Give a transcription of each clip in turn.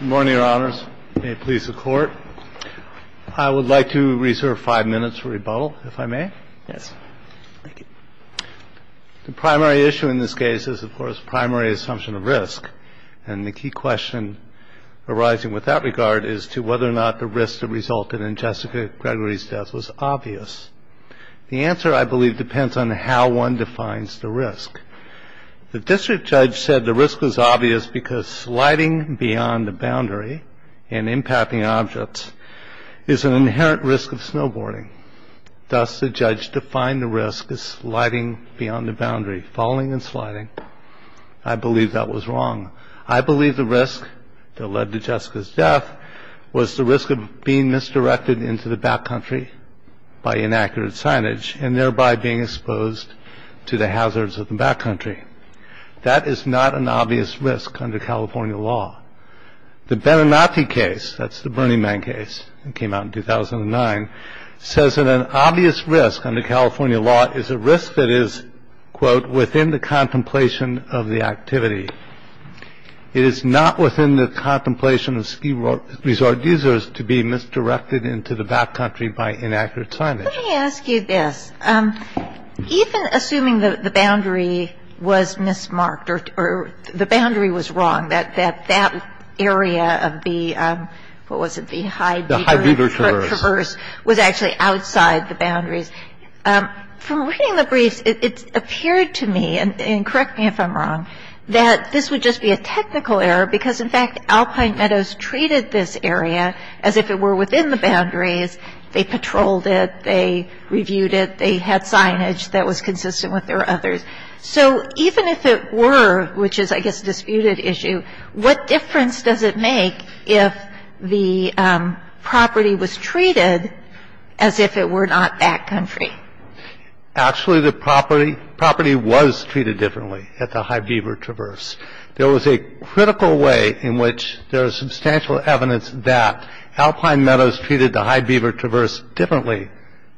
Good morning, Your Honors. May it please the Court. I would like to reserve five minutes for rebuttal, if I may. Yes. Thank you. The primary issue in this case is, of course, primary assumption of risk. And the key question arising with that regard is to whether or not the risk that resulted in Jessica Gregory's death was obvious. The answer, I believe, depends on how one defines the risk. The district judge said the risk was obvious because sliding beyond the boundary and impacting objects is an inherent risk of snowboarding. Thus, the judge defined the risk as sliding beyond the boundary, falling and sliding. I believe that was wrong. I believe the risk that led to Jessica's death was the risk of being misdirected into the backcountry by inaccurate signage and thereby being exposed to the hazards of the backcountry. That is not an obvious risk under California law. The Benenati case, that's the Burning Man case that came out in 2009, says that an obvious risk under California law is a risk that is, quote, within the contemplation of the activity. It is not within the contemplation of ski resort users to be misdirected into the backcountry by inaccurate signage. It is not within the contemplation of ski resort users to be misdirected into the backcountry by inaccurate signage. So let me ask you this. Even assuming that the boundary was mismarked or the boundary was wrong, that that area of the, what was it, the high beaver traverse was actually outside the boundaries. From reading the briefs, it appeared to me, and correct me if I'm wrong, that this would just be a technical error because, in fact, Alpine Meadows treated this area as if it were within the boundaries. They patrolled it. They reviewed it. They had signage that was consistent with their others. So even if it were, which is, I guess, a disputed issue, what difference does it make if the property was treated as if it were not backcountry? Actually, the property was treated differently at the high beaver traverse. There was a critical way in which there is substantial evidence that Alpine Meadows treated the high beaver traverse differently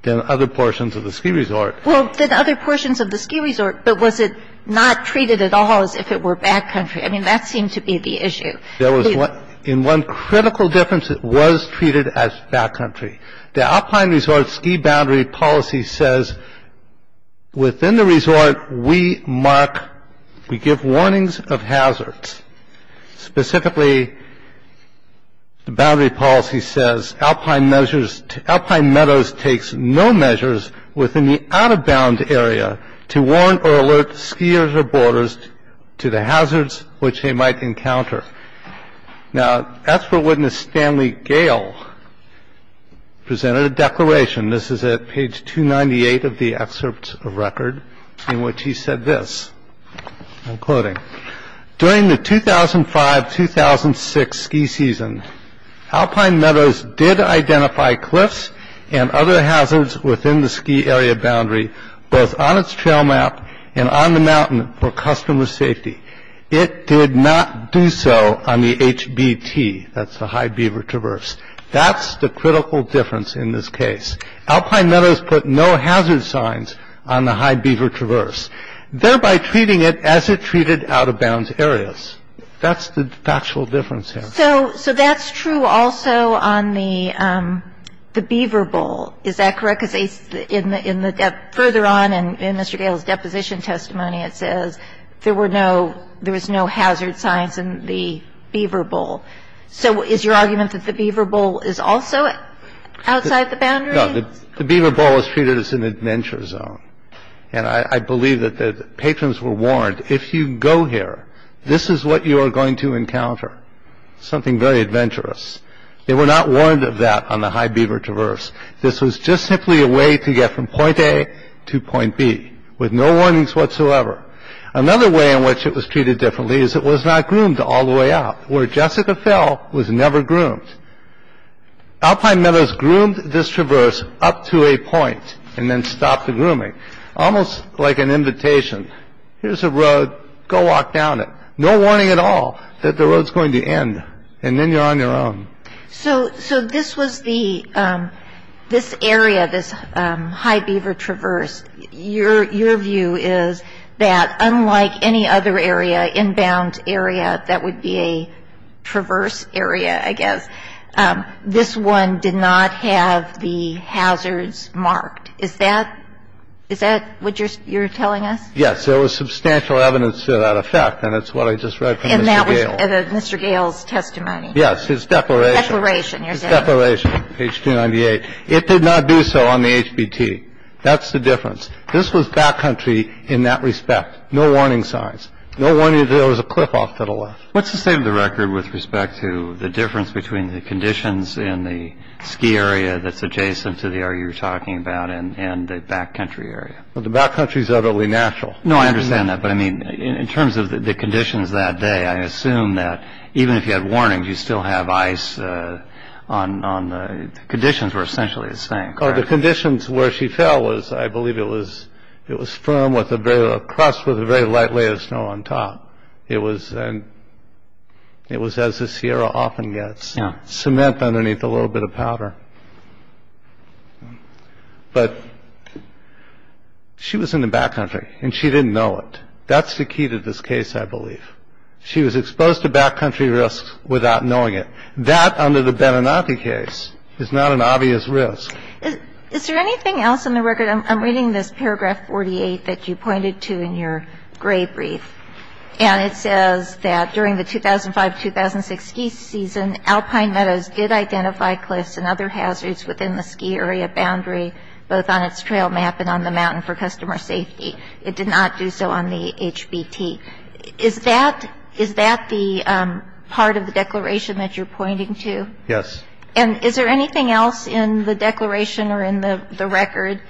than other portions of the ski resort. Well, than other portions of the ski resort, but was it not treated at all as if it were backcountry? I mean, that seemed to be the issue. There was, in one critical difference, it was treated as backcountry. The Alpine Resort Ski Boundary Policy says within the resort, we mark, we give warnings of hazards. Specifically, the boundary policy says Alpine Meadows takes no measures within the out-of-bound area to warn or alert skiers or boarders to the hazards which they might encounter. Now, as for witness Stanley Gale presented a declaration, this is at page 298 of the excerpt of record, in which he said this, I'm quoting, During the 2005-2006 ski season, Alpine Meadows did identify cliffs and other hazards within the ski area boundary, both on its trail map and on the mountain, for customer safety. It did not do so on the HBT, that's the high beaver traverse. That's the critical difference in this case. Alpine Meadows put no hazard signs on the high beaver traverse, thereby treating it as it treated out-of-bounds areas. That's the factual difference there. So that's true also on the beaver bowl. Is that correct? Because further on in Mr. Gale's deposition testimony, it says there were no, there was no hazard signs in the beaver bowl. So is your argument that the beaver bowl is also outside the boundary? No. The beaver bowl is treated as an adventure zone. And I believe that the patrons were warned, if you go here, this is what you are going to encounter, something very adventurous. They were not warned of that on the high beaver traverse. This was just simply a way to get from point A to point B with no warnings whatsoever. Another way in which it was treated differently is it was not groomed all the way up, where Jessica Fell was never groomed. Alpine Meadows groomed this traverse up to a point and then stopped the grooming, almost like an invitation. Here's a road, go walk down it. No warning at all that the road's going to end. And then you're on your own. So this was the, this area, this high beaver traverse, your view is that unlike any other area, inbound area that would be a traverse area, I guess, this one did not have the hazards marked. Is that what you're telling us? Yes, there was substantial evidence to that effect, and it's what I just read from Mr. Gale. And that was Mr. Gale's testimony? Yes, his declaration. Declaration, you're saying. His declaration, page 298. It did not do so on the HBT. That's the difference. This was backcountry in that respect. No warning signs. No warning that there was a cliff off to the left. What's the state of the record with respect to the difference between the conditions in the ski area that's adjacent to the area you're talking about and the backcountry area? Well, the backcountry's utterly natural. No, I understand that. But, I mean, in terms of the conditions that day, I assume that even if you had warnings, you still have ice on the, conditions were essentially the same. Oh, the conditions where she fell was, I believe it was, it was firm with a very, a crust with a very light layer of snow on top. It was, and it was as the Sierra often gets. Yeah. Cement underneath a little bit of powder. But she was in the backcountry, and she didn't know it. That's the key to this case, I believe. She was exposed to backcountry risks without knowing it. That, under the Beninati case, is not an obvious risk. Is there anything else in the record? I'm reading this paragraph 48 that you pointed to in your grade brief, and it says that during the 2005-2006 ski season, Alpine Meadows did identify cliffs and other hazards within the ski area boundary, both on its trail map and on the mountain for customer safety. It did not do so on the HBT. Is that the part of the declaration that you're pointing to? Yes. And is there anything else in the declaration or in the record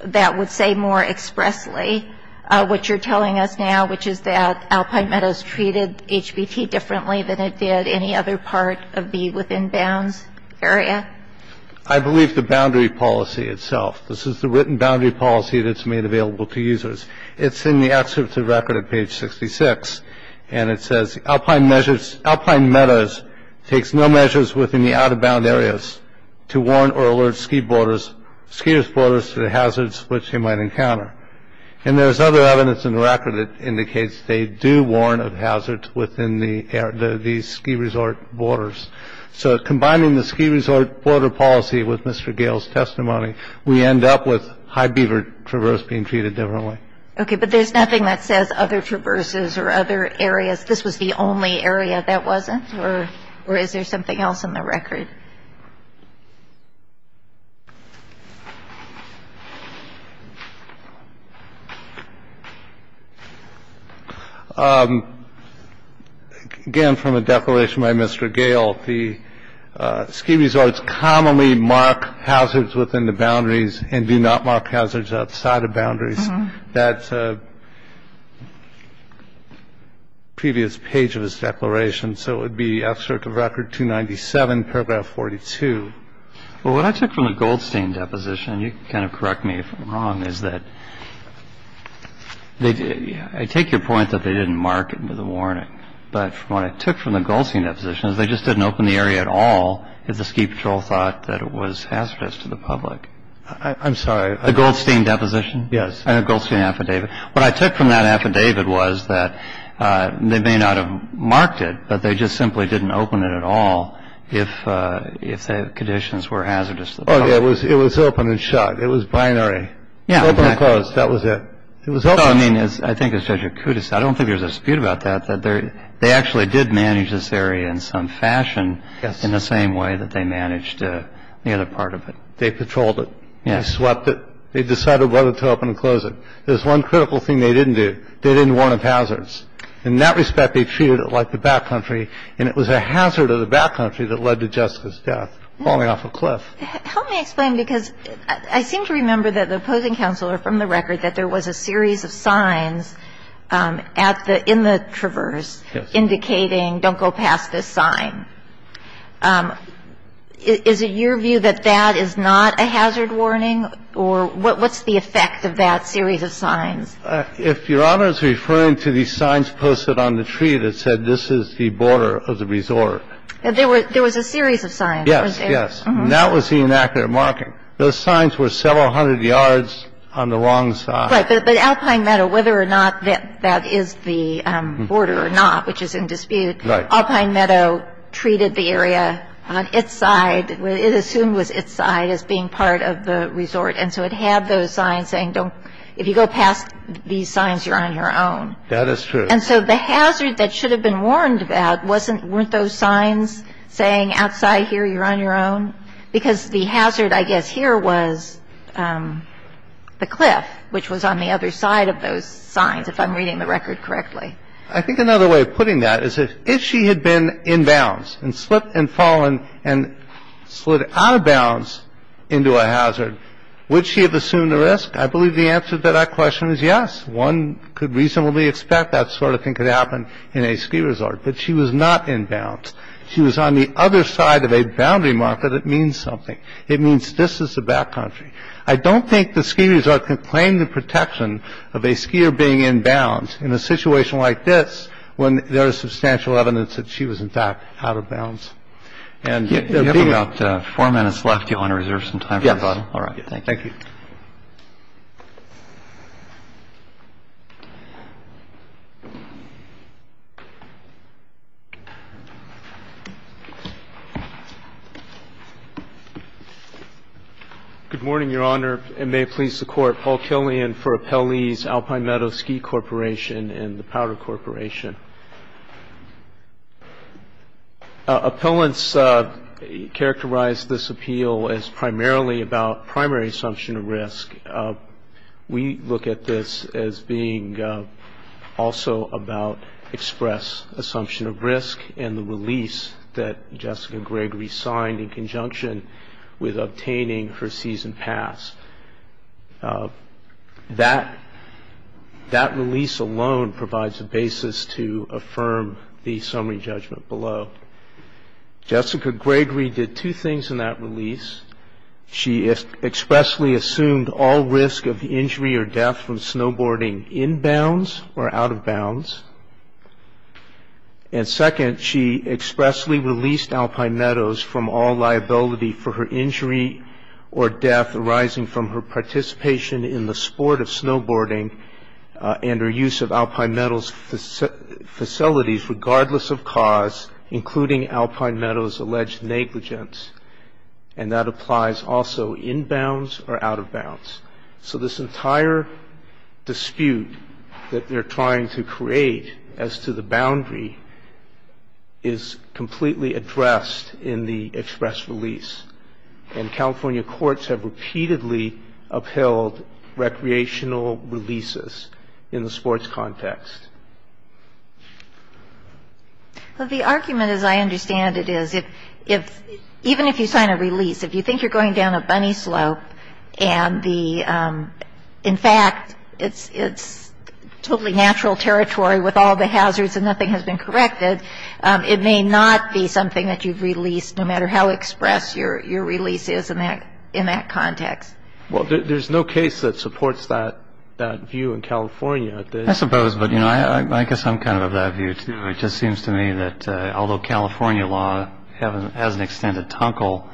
that would say more expressly what you're telling us now, which is that Alpine Meadows treated HBT differently than it did any other part of the within bounds area? I believe the boundary policy itself. This is the written boundary policy that's made available to users. It's in the excerpt of the record at page 66, and it says, Alpine Meadows takes no measures within the out-of-bound areas to warrant or alert skiers' borders to the hazards which they might encounter. And there's other evidence in the record that indicates they do warrant a hazard within these ski resort borders. So combining the ski resort border policy with Mr. Gale's testimony, we end up with High Beaver Traverse being treated differently. Okay. But there's nothing that says other traverses or other areas. This was the only area that wasn't? And do you have any other questions for Mr. Gale about this? Or is there something else in the record? Again, from a declaration by Mr. Gale, the ski resorts commonly mark hazards within the boundaries and do not mark hazards outside of boundaries. That's a previous page of his declaration. So it would be F Circuit Record 297, paragraph 42. Well, what I took from the Goldstein deposition, and you can kind of correct me if I'm wrong, is that I take your point that they didn't mark it with a warning. But what I took from the Goldstein deposition is they just didn't open the area at all if the ski patrol thought that it was hazardous to the public. I'm sorry. The Goldstein deposition? Yes. And the Goldstein affidavit. What I took from that affidavit was that they may not have marked it, but they just simply didn't open it at all if the conditions were hazardous to the public. It was open and shut. It was binary. Yeah, exactly. Open and closed. That was it. It was open. I mean, I think as Judge Akuta said, I don't think there's a dispute about that, that they actually did manage this area in some fashion in the same way that they managed the other part of it. They patrolled it. They swept it. They decided whether to open and close it. There's one critical thing they didn't do. They didn't warn of hazards. In that respect, they treated it like the backcountry, and it was a hazard of the backcountry that led to Jessica's death falling off a cliff. Help me explain, because I seem to remember that the opposing counselor from the record that there was a series of signs at the – in the Traverse indicating don't go past this sign. Is it your view that that is not a hazard warning? Or what's the effect of that series of signs? If Your Honor is referring to the signs posted on the tree that said this is the border of the resort. There was a series of signs. Yes, yes. And that was the inactive marking. Those signs were several hundred yards on the wrong side. Right, but Alpine Meadow, whether or not that is the border or not, which is in dispute, Alpine Meadow treated the area on its side. It assumed it was its side as being part of the resort, and so it had those signs saying don't – if you go past these signs, you're on your own. That is true. And so the hazard that should have been warned about wasn't – weren't those signs saying outside here, you're on your own? Because the hazard, I guess, here was the cliff, which was on the other side of those signs, if I'm reading the record correctly. I think another way of putting that is if she had been inbounds and slipped and fallen and slid out of bounds into a hazard, would she have assumed the risk? I believe the answer to that question is yes. One could reasonably expect that sort of thing could happen in a ski resort. But she was not inbounds. She was on the other side of a boundary marker that means something. It means this is the back country. I don't think the ski resort can claim the protection of a skier being inbounds in a situation like this when there is substantial evidence that she was, in fact, out of bounds. And the bigger – You have about four minutes left. Do you want to reserve some time for rebuttal? Yes. All right. Thank you. Good morning, Your Honor, and may it please the Court. Paul Killian for Appellees, Alpine Meadows Ski Corporation and the Powder Corporation. Appellants characterize this appeal as primarily about primary assumption of risk. We look at this as being also about express assumption of risk and the release that Jessica Gregory signed in conjunction with obtaining her season pass. That release alone provides a basis to affirm the summary judgment below. Jessica Gregory did two things in that release. She expressly assumed all risk of injury or death from snowboarding inbounds or out of bounds. And second, she expressly released Alpine Meadows from all liability for her injury or death arising from her participation in the sport of snowboarding and her use of Alpine Meadows facilities regardless of cause, including Alpine Meadows' alleged negligence. And that applies also inbounds or out of bounds. So this entire dispute that they're trying to create as to the boundary is completely addressed in the express release. And California courts have repeatedly upheld recreational releases in the sports context. Well, the argument, as I understand it, is if, even if you sign a release, if you think you're going down a bunny slope and the, in fact, it's totally natural territory with all the hazards and nothing has been corrected, it may not be something that you've released no matter how express your release is in that context. Well, there's no case that supports that view in California. I suppose. But, you know, I guess I'm kind of of that view, too. It just seems to me that although California law has an extended tinkle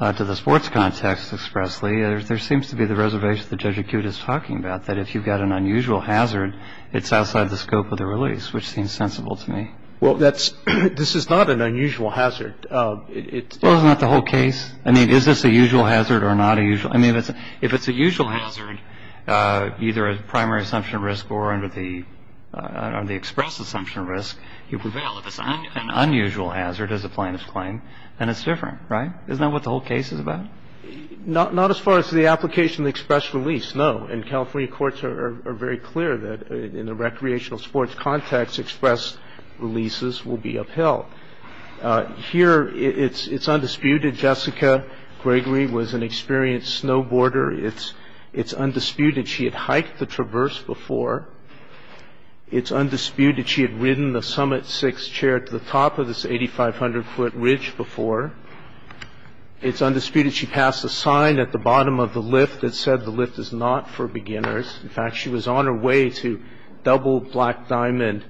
to the sports context expressly, there seems to be the reservation that Judge Acute is talking about, that if you've got an unusual hazard, it's outside the scope of the release, which seems sensible to me. Well, this is not an unusual hazard. Well, isn't that the whole case? I mean, is this a usual hazard or not a usual? I mean, if it's a usual hazard, either a primary assumption risk or under the express assumption risk, you prevail. If it's an unusual hazard, as the plaintiffs claim, then it's different, right? Isn't that what the whole case is about? Not as far as the application of the express release, no. And California courts are very clear that in a recreational sports context, express releases will be upheld. Here, it's undisputed Jessica Gregory was an experienced snowboarder. It's undisputed she had hiked the traverse before. It's undisputed she had ridden the Summit 6 chair to the top of this 8,500-foot ridge before. It's undisputed she passed a sign at the bottom of the lift that said the lift is not for beginners. In fact, she was on her way to double black diamond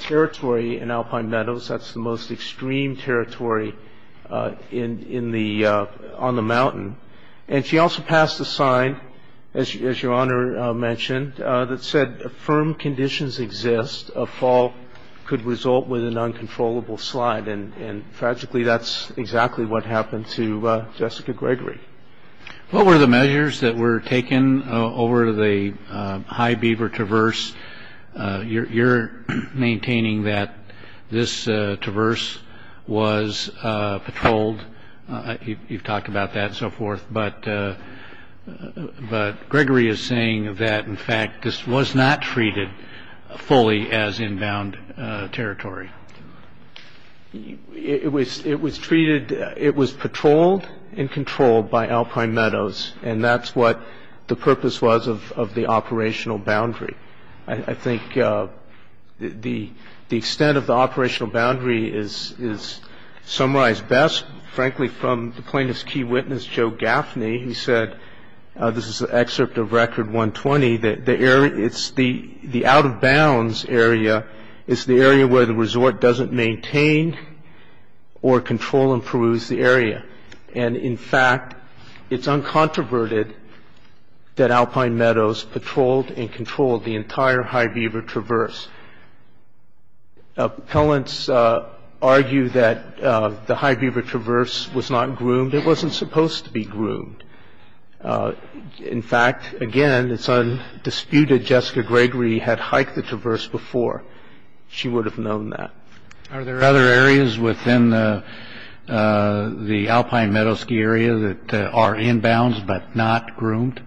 territory in Alpine Meadows. That's the most extreme territory on the mountain. And she also passed a sign, as Your Honor mentioned, that said, if firm conditions exist, a fall could result with an uncontrollable slide. And tragically, that's exactly what happened to Jessica Gregory. What were the measures that were taken over the High Beaver Traverse? You're maintaining that this traverse was patrolled. You've talked about that and so forth. But Gregory is saying that, in fact, this was not treated fully as inbound territory. It was treated, it was patrolled and controlled by Alpine Meadows, and that's what the purpose was of the operational boundary. I think the extent of the operational boundary is summarized best, frankly, from the plaintiff's key witness, Joe Gaffney, who said, this is an excerpt of Record 120, that the out-of-bounds area is the area where the resort doesn't maintain or control and peruse the area. And, in fact, it's uncontroverted that Alpine Meadows patrolled and controlled the entire High Beaver Traverse. Appellants argue that the High Beaver Traverse was not groomed. It wasn't supposed to be groomed. In fact, again, it's undisputed Jessica Gregory had hiked the traverse before. She would have known that. Are there other areas within the Alpine Meadows ski area that are inbounds but not groomed?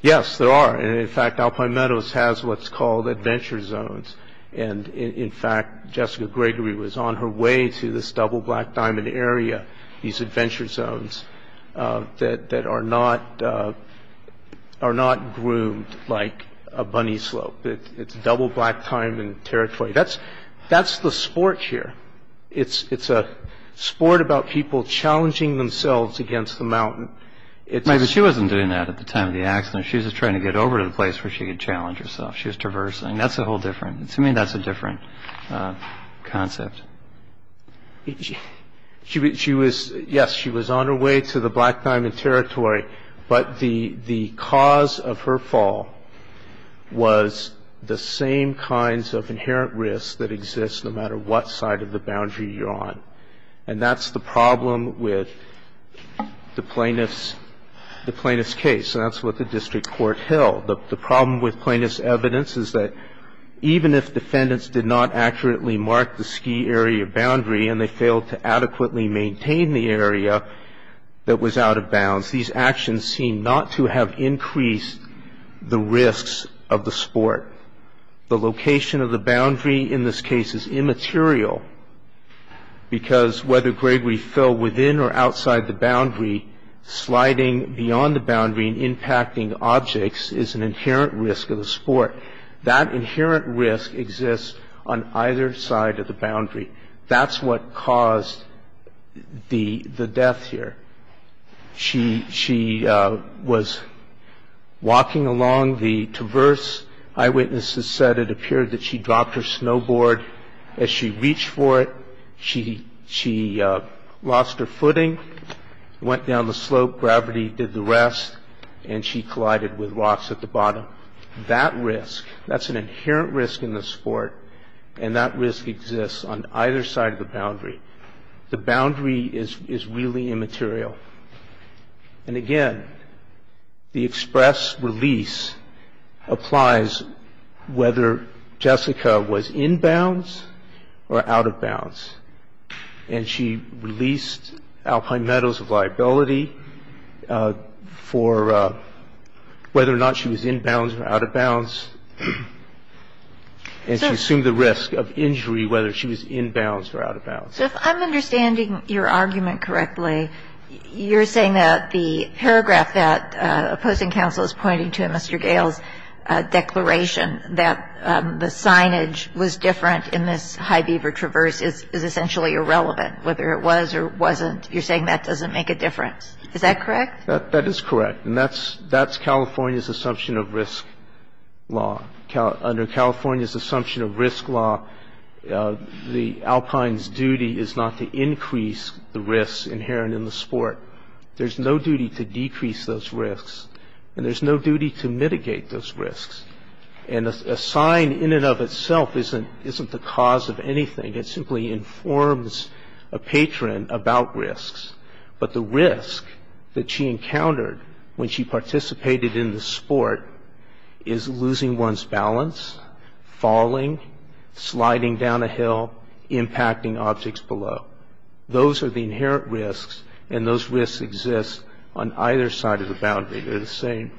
Yes, there are. And, in fact, Alpine Meadows has what's called adventure zones. And, in fact, Jessica Gregory was on her way to this double black diamond area, these adventure zones that are not groomed like a bunny slope. It's double black diamond territory. That's the sport here. She wasn't doing that at the time of the accident. She was just trying to get over to the place where she could challenge herself. She was traversing. That's a whole different – to me, that's a different concept. Yes, she was on her way to the black diamond territory, but the cause of her fall was the same kinds of inherent risks that exist no matter what side of the boundary you're on. And that's the problem with the plaintiff's case. And that's what the district court held. The problem with plaintiff's evidence is that even if defendants did not accurately mark the ski area boundary and they failed to adequately maintain the area that was out of bounds, these actions seem not to have increased the risks of the sport. The location of the boundary in this case is immaterial, because whether Gregory fell within or outside the boundary, sliding beyond the boundary and impacting objects is an inherent risk of the sport. That inherent risk exists on either side of the boundary. That's what caused the death here. She was walking along the traverse. Eyewitnesses said it appeared that she dropped her snowboard as she reached for it. She lost her footing, went down the slope. Gravity did the rest, and she collided with rocks at the bottom. That risk, that's an inherent risk in the sport, and that risk exists on either side of the boundary. The boundary is really immaterial. And again, the express release applies whether Jessica was in bounds or out of bounds. And she released alpine meadows of liability for whether or not she was in bounds or out of bounds, and she assumed the risk of injury whether she was in bounds or out of bounds. So if I'm understanding your argument correctly, you're saying that the paragraph that opposing counsel is pointing to in Mr. Gale's declaration that the signage was different in this high beaver traverse is essentially irrelevant, whether it was or wasn't. You're saying that doesn't make a difference. Is that correct? That is correct. And that's California's assumption of risk law. Under California's assumption of risk law, the alpine's duty is not to increase the risk inherent in the sport. There's no duty to decrease those risks, and there's no duty to mitigate those risks. And a sign in and of itself isn't the cause of anything. It simply informs a patron about risks. And so the alpine's duty is not to increase the risk inherent in the sport. It's not to mitigate those risks. But the risk that she encountered when she participated in the sport is losing one's balance, falling, sliding down a hill, impacting objects below. Those are the inherent risks, and those risks exist on either side of the boundary. They're the same.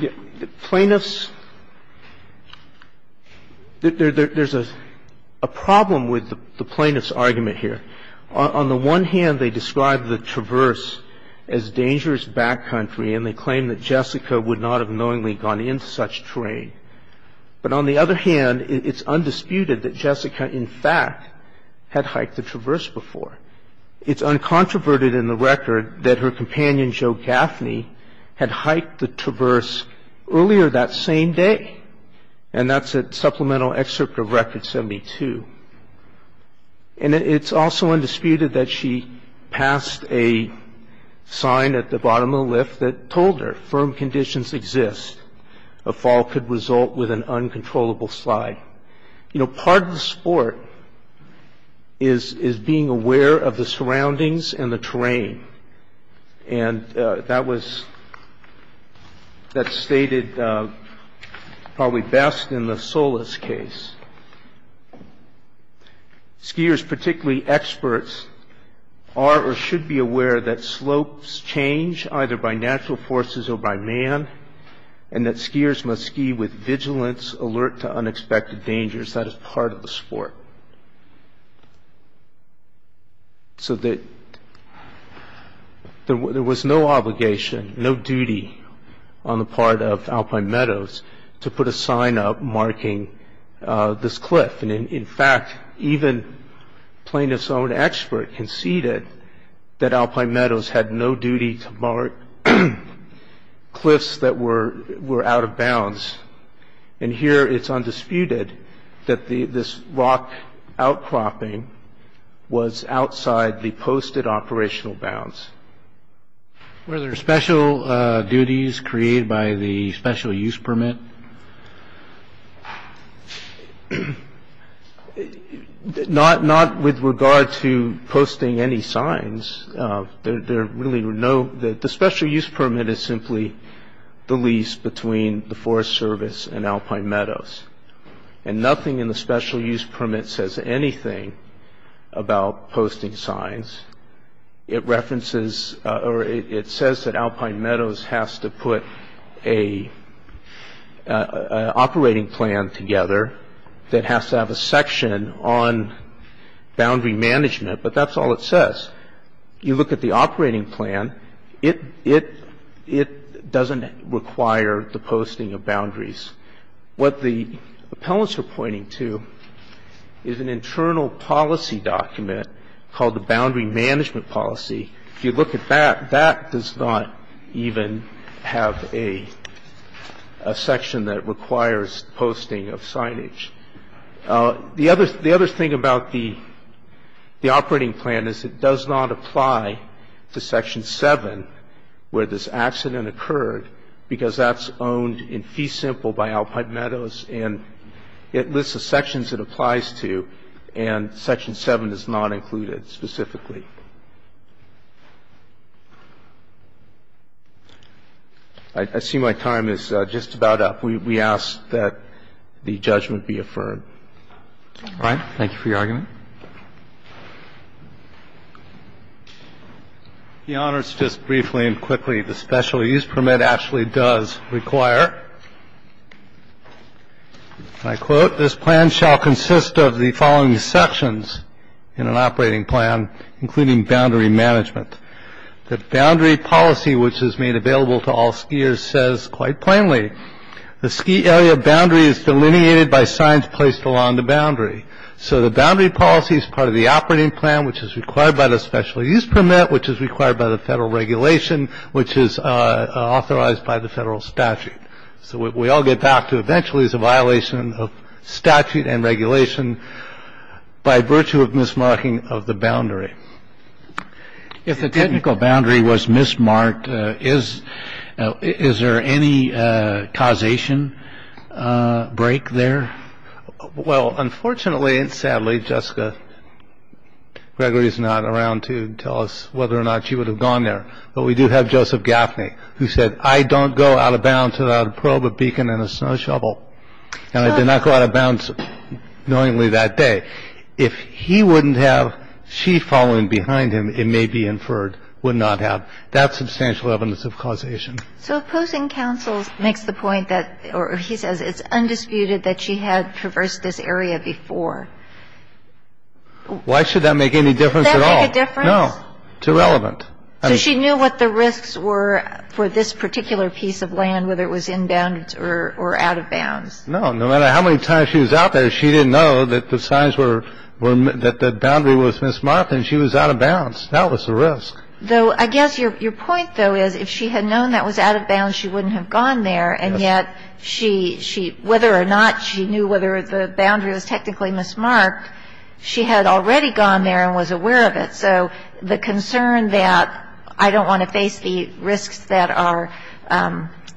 The plaintiff's – there's a problem with the plaintiff's argument here. On the one hand, they describe the traverse as dangerous backcountry, and they claim that Jessica would not have knowingly gone into such terrain. But on the other hand, it's undisputed that Jessica, in fact, had hiked the traverse before. It's uncontroverted in the record that her companion, Joe Gaffney, had hiked the traverse earlier that same day. And that's a supplemental excerpt of Record 72. And it's also undisputed that she passed a sign at the bottom of the lift that told her, firm conditions exist. A fall could result with an uncontrollable slide. Part of the sport is being aware of the surroundings and the terrain. And that was – that's stated probably best in the Solis case. Skiers, particularly experts, are or should be aware that slopes change either by natural forces or by man, and that skiers must ski with vigilance, alert to unexpected dangers. That is part of the sport. So there was no obligation, no duty on the part of Alpine Meadows to put a sign up marking this cliff. And in fact, even plaintiff's own expert conceded that Alpine Meadows had no duty to mark cliffs that were out of bounds. And here it's undisputed that this rock outcropping was outside the posted operational bounds. Were there special duties created by the special use permit? Not with regard to posting any signs. There really were no – the special use permit is simply the lease between the Forest Service and Alpine Meadows. And nothing in the special use permit says anything about posting signs. It references – or it says that Alpine Meadows has to put an operating plan together that has to have a section on boundary management, but that's all it says. You look at the operating plan, it doesn't require the posting of boundaries. What the appellants are pointing to is an internal policy document called the boundary management policy. If you look at that, that does not even have a section that requires posting of signage. The other thing about the operating plan is it does not apply to Section 7 where this accident occurred because that's owned in fee simple by Alpine Meadows and it lists the sections it applies to and Section 7 is not included specifically. I see my time is just about up. We ask that the judgment be affirmed. All right. Thank you for your argument. Thank you. The honors, just briefly and quickly, the special use permit actually does require, and I quote, this plan shall consist of the following sections in an operating plan, including boundary management. The boundary policy, which is made available to all skiers, says quite plainly, the ski area boundary is delineated by signs placed along the boundary. So the boundary policy is part of the operating plan, which is required by the special use permit, which is required by the federal regulation, which is authorized by the federal statute. So what we all get back to eventually is a violation of statute and regulation by virtue of mismarking of the boundary. If the technical boundary was mismarked, is there any causation break there? Well, unfortunately and sadly, Jessica Gregory is not around to tell us whether or not she would have gone there. But we do have Joseph Gaffney, who said, I don't go out of bounds without a probe, a beacon, and a snow shovel. And I did not go out of bounds knowingly that day. If he wouldn't have she following behind him, it may be inferred, would not have. That's substantial evidence of causation. So opposing counsel makes the point that, or he says it's undisputed that she had traversed this area before. Why should that make any difference at all? Does that make a difference? No. It's irrelevant. So she knew what the risks were for this particular piece of land, whether it was in bounds or out of bounds. No. No matter how many times she was out there, she didn't know that the signs were, that the boundary was mismarked and she was out of bounds. That was the risk. Though I guess your point, though, is if she had known that was out of bounds, she wouldn't have gone there. And yet she, she, whether or not she knew whether the boundary was technically mismarked, she had already gone there and was aware of it. So the concern that I don't want to face the risks that are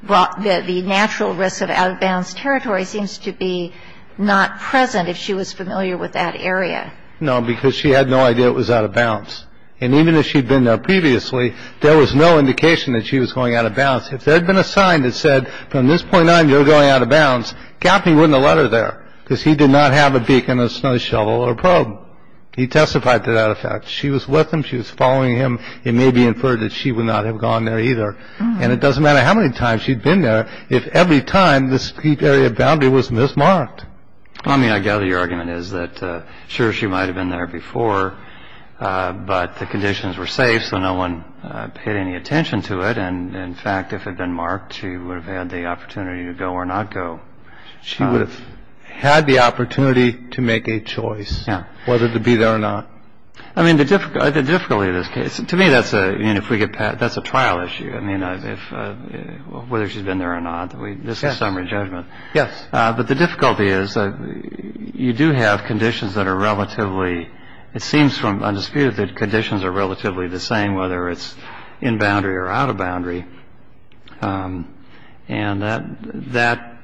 brought, the natural risks of out of bounds territory seems to be not present if she was familiar with that area. No, because she had no idea it was out of bounds. And even if she'd been there previously, there was no indication that she was going out of bounds. If there had been a sign that said from this point on, you're going out of bounds. Gaffney wouldn't have let her there because he did not have a beacon, a snow shovel or probe. He testified to that effect. She was with him. She was following him. It may be inferred that she would not have gone there either. And it doesn't matter how many times she'd been there. If every time this area boundary was mismarked. I mean, I gather your argument is that sure, she might have been there before, but the conditions were safe. So no one paid any attention to it. And in fact, if it had been marked, she would have had the opportunity to go or not go. She would have had the opportunity to make a choice whether to be there or not. I mean, the difficulty, the difficulty of this case to me, that's a you know, if we get past that's a trial issue. I mean, if whether she's been there or not, this is summary judgment. Yes. But the difficulty is that you do have conditions that are relatively. It seems from my dispute that conditions are relatively the same, whether it's in boundary or out of boundary. And that that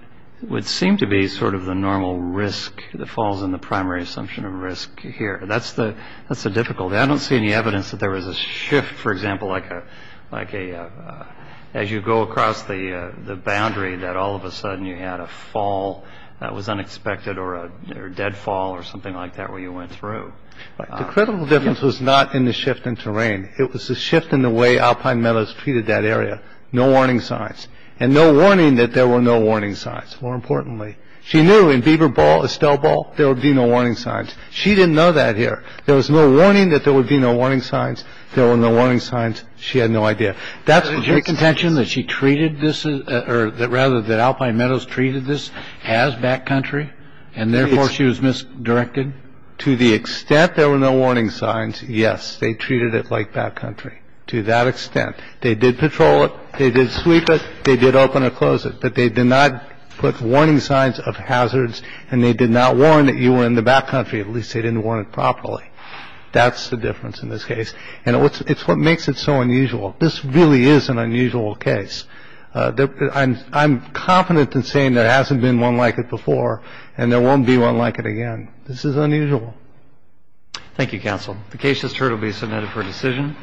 would seem to be sort of the normal risk that falls in the primary assumption of risk here. That's the that's a difficult. I don't see any evidence that there was a shift, for example, like a like a. As you go across the boundary, that all of a sudden you had a fall that was unexpected or a deadfall or something like that where you went through. The critical difference was not in the shift in terrain. It was a shift in the way Alpine Meadows treated that area. No warning signs and no warning that there were no warning signs. More importantly, she knew in Beaver Ball, Estelle Ball, there would be no warning signs. She didn't know that here. There was no warning that there would be no warning signs. There were no warning signs. She had no idea. That's your contention that she treated this or that rather than Alpine Meadows treated this as backcountry and therefore she was misdirected. To the extent there were no warning signs. Yes. They treated it like backcountry to that extent. They did patrol it. They did sweep it. They did open or close it. But they did not put warning signs of hazards and they did not warn that you were in the backcountry. At least they didn't want it properly. That's the difference in this case. And it's what makes it so unusual. This really is an unusual case. I'm confident in saying there hasn't been one like it before and there won't be one like it again. This is unusual. Thank you, counsel. The case just heard will be submitted for decision.